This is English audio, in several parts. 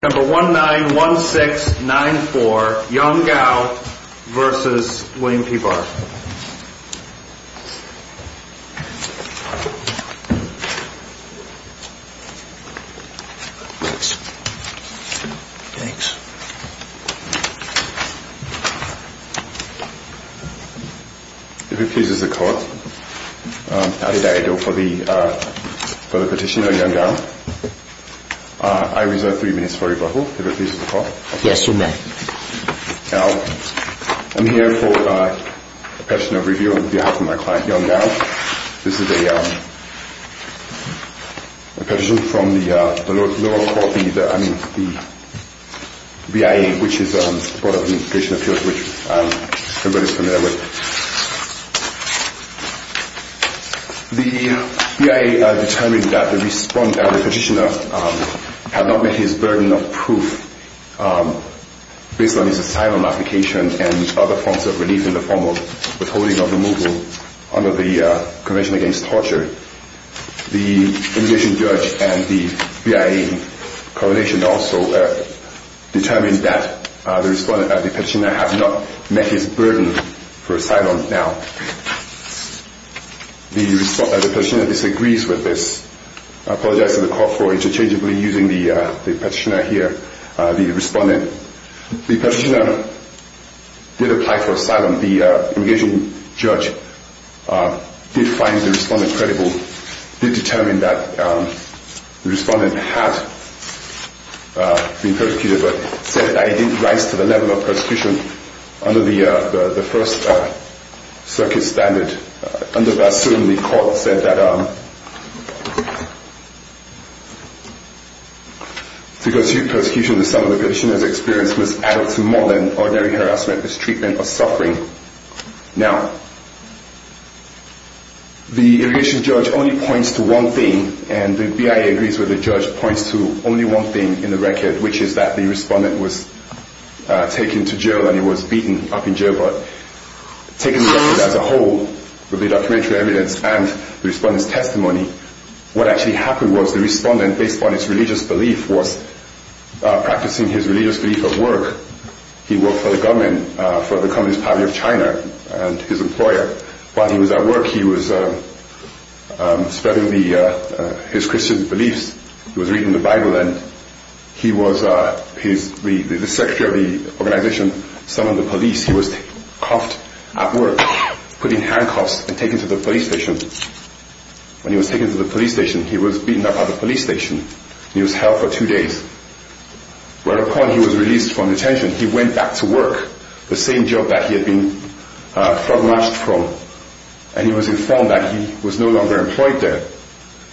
number one nine one six nine four young gal versus William P. Barr if he pleases the court I reserve three minutes for rebuttal if it pleases the court. I'm here for a petition of review on behalf of my client young gal. This is a petition from the BIA which is a board of administration appeals which everybody is familiar with. The BIA determined that the petitioner had not met his burden of proof based on his asylum application and other forms of relief in the form of withholding of removal under the convention against torture. The immigration judge and the BIA coronation also determined that the petitioner has not met his burden for asylum now. The petitioner disagrees with this. I apologize to the court for interchangeably using the petitioner here. The petitioner did apply for asylum. The immigration judge did find the respondent credible. He determined that the respondent had been persecuted but said that he didn't rise to the level of persecution under the first circuit standard. Under that circuit the court said that to pursue persecution the sum of the petitioner's experience was addled to more than ordinary harassment, mistreatment or suffering. Now, the immigration judge only points to one thing and the BIA agrees with the judge points to only one thing in the record which is that the respondent was taken to jail and he was beaten up in jail but taken as a whole with the documentary evidence and the respondent's testimony what actually happened was the respondent based on his religious belief was practicing his religious belief of work. He worked for the government for the Communist Party of China and his employer. While he was at work he was spreading his Christian beliefs. He was reading the bible and the secretary of the organization summoned the police. He was cuffed at work putting handcuffs and taken to the police station. When he was taken to the police station he was beaten up at the police station and he was held for two days. Whereupon he was released from detention he went back to work the same job that he had been flogged from and he was informed that he was no longer employed there.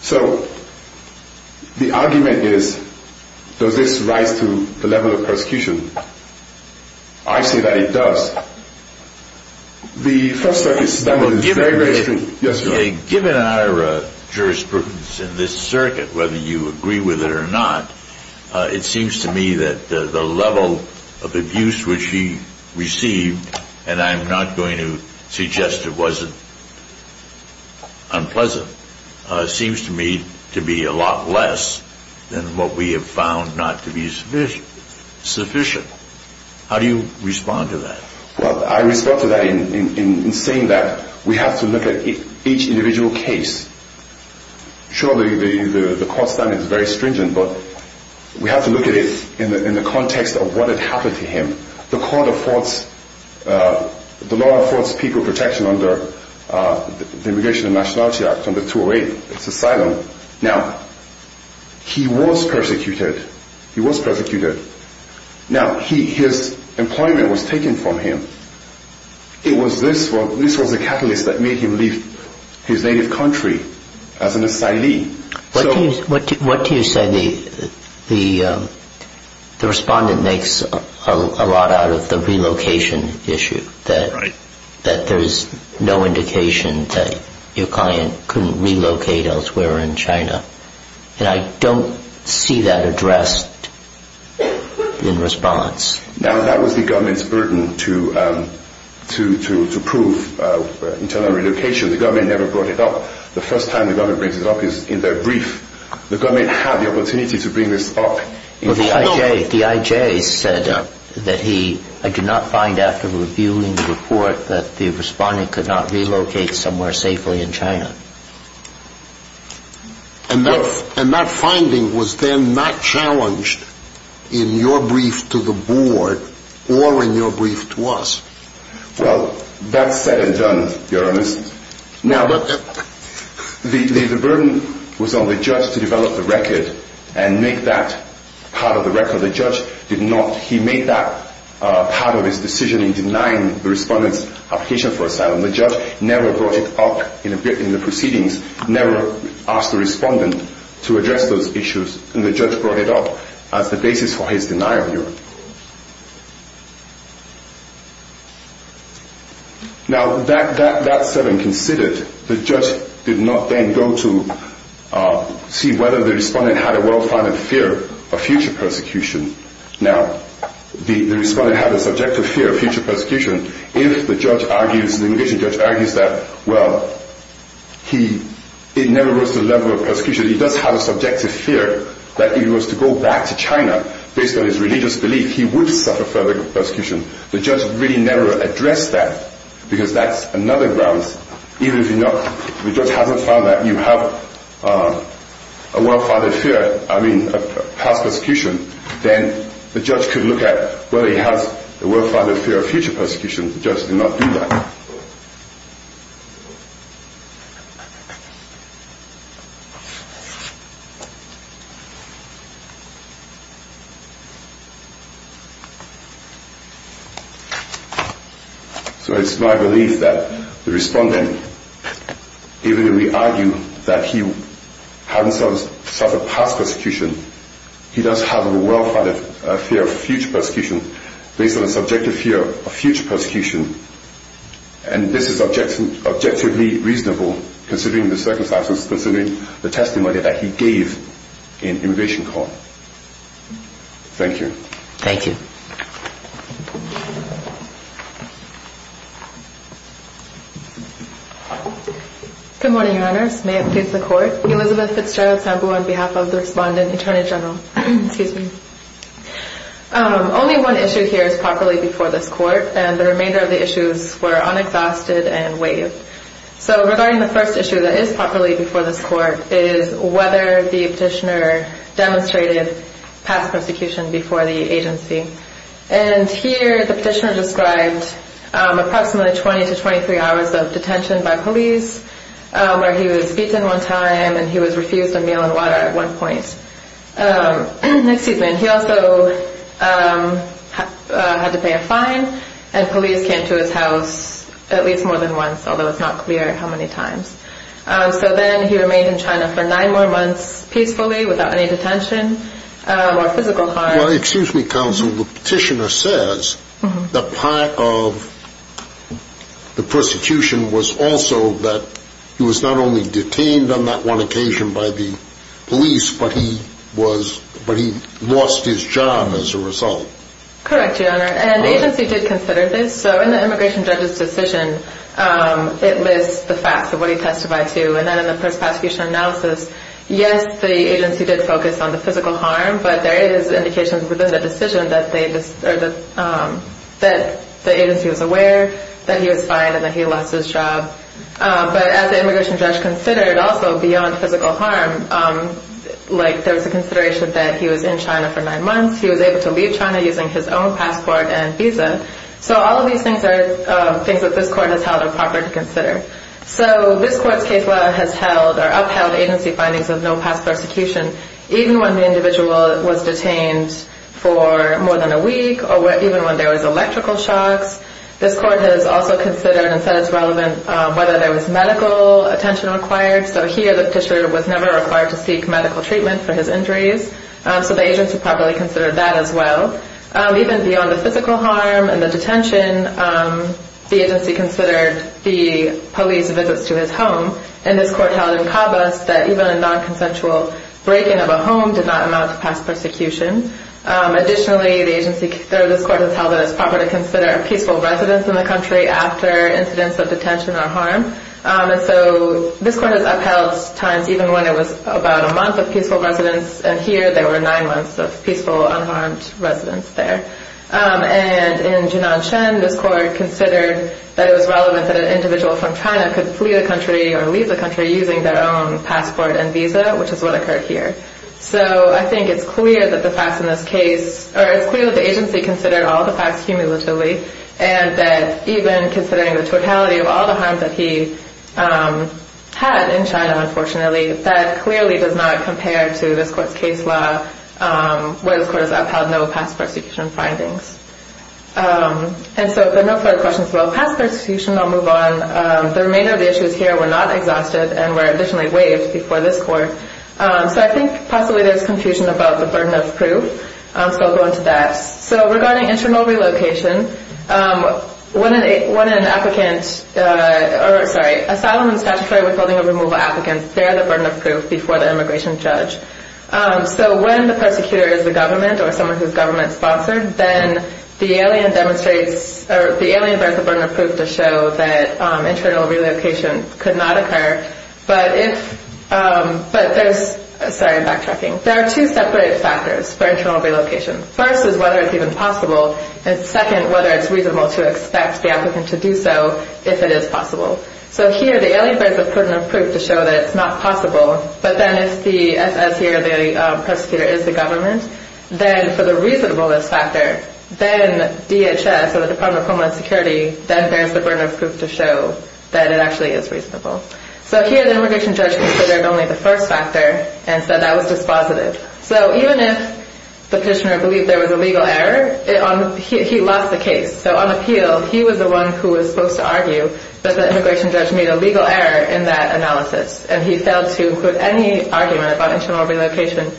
So the argument is does this rise to the level of persecution? I say that it does. The first thing is that it is very, very true. I respond to that in saying that we have to look at each individual case. Surely the court's stand is very stringent but we have to look at it in the context of what had happened to him. The court affords, the law affords people protection under the Immigration and Nationality Act under 208. It's asylum. He was persecuted. His employment was taken from him. This was the catalyst that made him leave his native country as an asylee. What do you say the respondent makes a lot out of the relocation issue? That there's no indication that your client couldn't relocate elsewhere in China? And I don't see that addressed in response. That was the government's burden to prove internal relocation. The government never brought it up. The first time the government brings it up is in their brief. The government had the opportunity to bring this up. The IJ said that he did not find after reviewing the report that the respondent could not relocate somewhere safely in China. And that finding was then not challenged in your brief to the board or in your brief to us? Well, that's said and done, Your Honours. Now look, the burden was on the judge to develop the record and make that part of the record. The judge did not. He made that part of his decision in denying the respondent's application for asylum. The judge never brought it up in the proceedings, never asked the respondent to address those issues, and the judge brought it up as the basis for his denial. Now, that said and considered, the judge did not then go to see whether the respondent had a well-founded fear of future persecution. Now, the respondent had a subjective fear of future persecution. If the judge argues that, well, it never goes to the level of persecution, he does have a subjective fear that if he was to go back to China, based on his religious belief, he would suffer further persecution. The judge really never addressed that, because that's another grounds. Even if the judge hasn't found that you have a well-founded fear, I mean, of past persecution, then the judge could look at whether he has a well-founded fear of future persecution. The judge did not do that. So it's my belief that the respondent, even if we argue that he hadn't suffered past persecution, he does have a well-founded fear of future persecution, based on his subjective fear of future persecution, and this is objectively reasonable, considering the circumstances, considering the testimony that he gave in immigration court. Thank you. Good morning, Your Honors. May it please the Court. Elizabeth Fitzgerald Sambu on behalf of the Respondent Attorney General. Excuse me. Only one issue here is properly before this Court, and the remainder of the issues were unexhausted and waived. So regarding the first issue that is properly before this Court is whether the petitioner demonstrated past persecution before the agency. And here the petitioner described approximately 20 to 23 hours of detention by police, where he was beaten one time and he was refused a meal and water at one point. He also had to pay a fine and police came to his house at least more than once, although it's not clear how many times. So then he remained in China for nine more months peacefully without any detention or physical harm. Excuse me, Counsel. The petitioner says that part of the persecution was also that he was not only detained on that one occasion by the police, but he lost his job as a result. Correct, Your Honor. And the agency did consider this. So in the immigration judge's decision, it lists the facts of what he testified to. And then in the persecution analysis, yes, the agency did focus on the physical harm, but there is indications within the decision that the agency was aware that he was fined and that he lost his job. But as the immigration judge considered also beyond physical harm, like there was a consideration that he was in China for nine months. He was able to leave China using his own passport and visa. So all of these things are things that this Court has held it proper to consider. So this Court's case law has held or upheld agency findings of no past persecution, even when the individual was detained for more than a week or even when there was electrical shocks. This Court has also considered and said it's relevant whether there was medical attention required. So here the petitioner was never required to seek medical treatment for his injuries. So the agency probably considered that as well. Even beyond the physical harm and the detention, the agency considered the police visits to his home. And this Court held in Cabas that even a non-consensual breaking of a home did not amount to past persecution. Additionally, this Court has held it as proper to consider peaceful residence in the country after incidents of detention or harm. And so this Court has upheld times even when it was about a month of peaceful residence. And here there were nine months of peaceful, unharmed residence there. And in Jun'an Shen, this Court considered that it was relevant that an individual from China could flee the country or leave the country using their own passport and visa, which is what occurred here. So I think it's clear that the facts in this case, or it's clear that the agency considered all the facts cumulatively, and that even considering the totality of all the harm that he had in China, unfortunately, that clearly does not compare to this Court's case law where this Court has upheld no past persecution. And so if there are no further questions about past persecution, I'll move on. The remainder of the issues here were not exhausted and were additionally waived before this Court. So I think possibly there's confusion about the burden of proof, so I'll go into that. So regarding internal relocation, when an applicant, sorry, asylum and statutory withholding of removal applicants, they're the burden of proof before the immigration judge. So when the persecutor is the government or someone who's government-sponsored, then the alien demonstrates, or the alien bears the burden of proof to show that internal relocation could not occur. But if, but there's, sorry, I'm backtracking. There are two separate factors for internal relocation. First is whether it's even possible, and second, whether it's reasonable to expect the applicant to do so if it is possible. So here the alien bears the burden of proof to show that it's not possible, but then if the SS here, the persecutor, is the government, then for the reasonableness factor, then DHS, or the Department of Homeland Security, then bears the burden of proof to show that it actually is reasonable. So here the immigration judge considered only the first factor and said that was dispositive. So even if the petitioner believed there was a legal error, he lost the case. So on appeal, he was the one who was supposed to argue that the immigration judge made a legal error in that analysis, and he failed to include any argument about internal relocation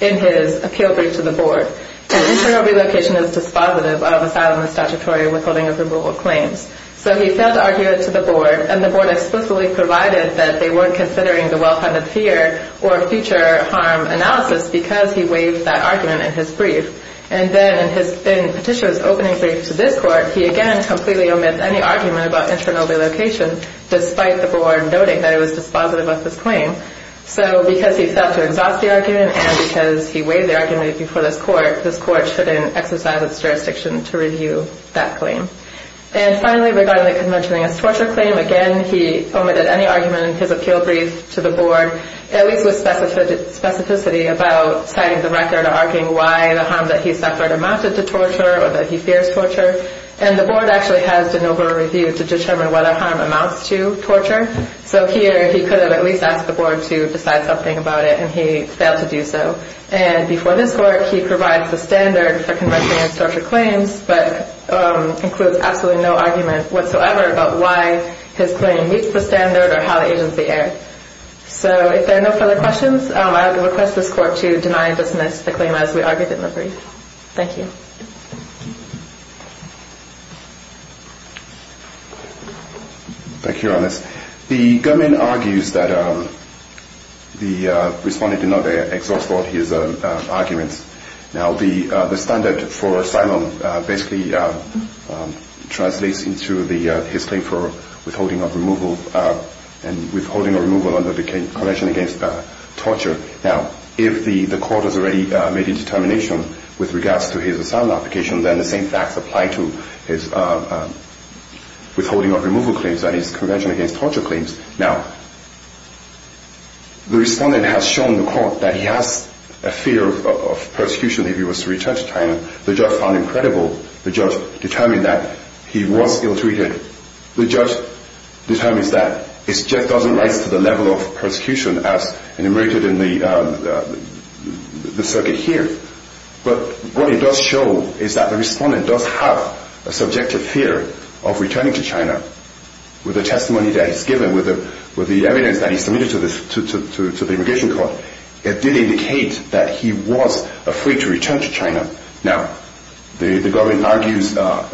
in his appeal brief to the board. And internal relocation is dispositive of asylum and statutory withholding of removal claims. So he failed to argue it to the board, and the board explicitly provided that they weren't considering the well-funded fear or future harm analysis because he waived that argument in his brief. And then in Petitia's opening brief to this court, he again completely omits any argument about internal relocation, despite the board noting that it was dispositive of this claim. So because he failed to exhaust the argument and because he waived the argument before this court, this court shouldn't exercise its jurisdiction to review that claim. And finally, regarding the conventioning as torture claim, again, he omitted any argument in his appeal brief to the board, at least with specificity about citing the record or arguing why the harm that he suffered amounted to torture or that he fears torture. And the board actually has de novo review to determine whether harm amounts to torture. So here he could have at least asked the board to decide something about it, and he failed to do so. And before this court, he provides the standard for conventioning as torture claims, but includes absolutely no argument whatsoever about why his claim meets the standard or how the agency erred. So if there are no further questions, I would request this court to deny and dismiss the claim as we argued in the brief. Thank you. Thank you, Your Honours. The government argues that the respondent did not exhaust all his arguments. Now, the standard for asylum basically translates into his claim for withholding of removal and withholding of removal under the convention against torture. Now, if the court has already made a determination with regards to his asylum application, then the same facts apply to his withholding of removal claims and his convention against torture claims. Now, the respondent has shown the court that he has a fear of persecution if he was to return to China. The judge found him credible. The judge determined that he was ill-treated. The judge determined that it just doesn't rise to the level of persecution as enumerated in the circuit here. But what it does show is that the respondent does have a subjective fear of returning to China. With the testimony that he's given, with the evidence that he submitted to the immigration court, it did indicate that he was afraid to return to China. Now, the government argues that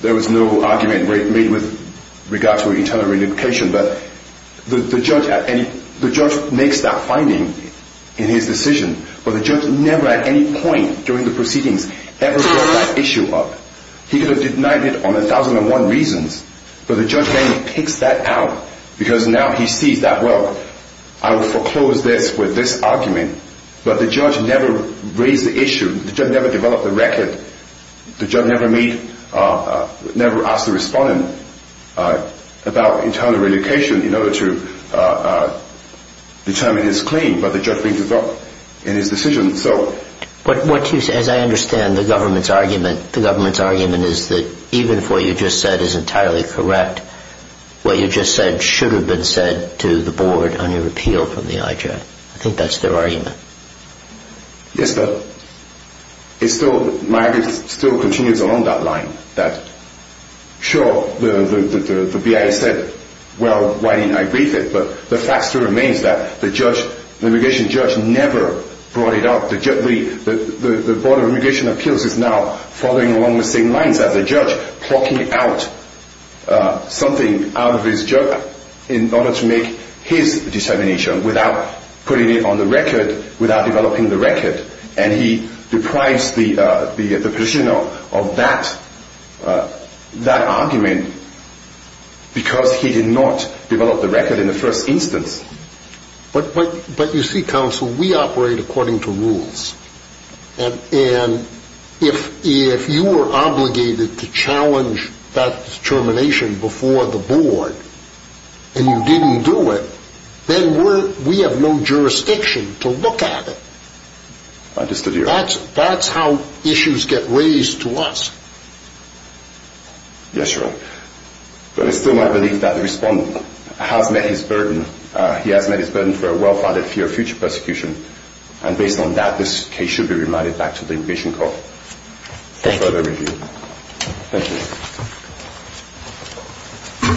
there was no argument made with regards to an internal relocation, but the judge makes that finding in his decision, but the judge never at any point during the proceedings ever brought that issue up. He could have denied it on a thousand and one reasons, but the judge only picks that out because now he sees that, well, I will foreclose this with this argument, but the judge never raised the issue. The judge never developed a record. The judge never asked the respondent about internal relocation in order to determine his claim, but the judge brings it up in his decision. As I understand, the government's argument is that even if what you just said is entirely correct, what you just said should have been said to the board on your repeal from the IJ. I think that's their argument. Yes, but my argument still continues along that line. Sure, the BIA said, well, why didn't I brief it? But the fact still remains that the immigration judge never brought it up. The Board of Immigration Appeals is now following along the same lines as the judge, plucking out something out of his jug in order to make his determination without putting it on the record, without developing the record, and he deprives the petitioner of that argument because he did not develop the record in the first instance. But you see, counsel, we operate according to rules, and if you were obligated to challenge that determination before the board and you didn't do it, then we have no jurisdiction to look at it. I understand your argument. That's how issues get raised to us. Yes, Your Honour. But it's still my belief that the respondent has met his burden. He has met his burden for a well-founded fear of future persecution, and based on that, this case should be remanded back to the Immigration Court for further review. Thank you.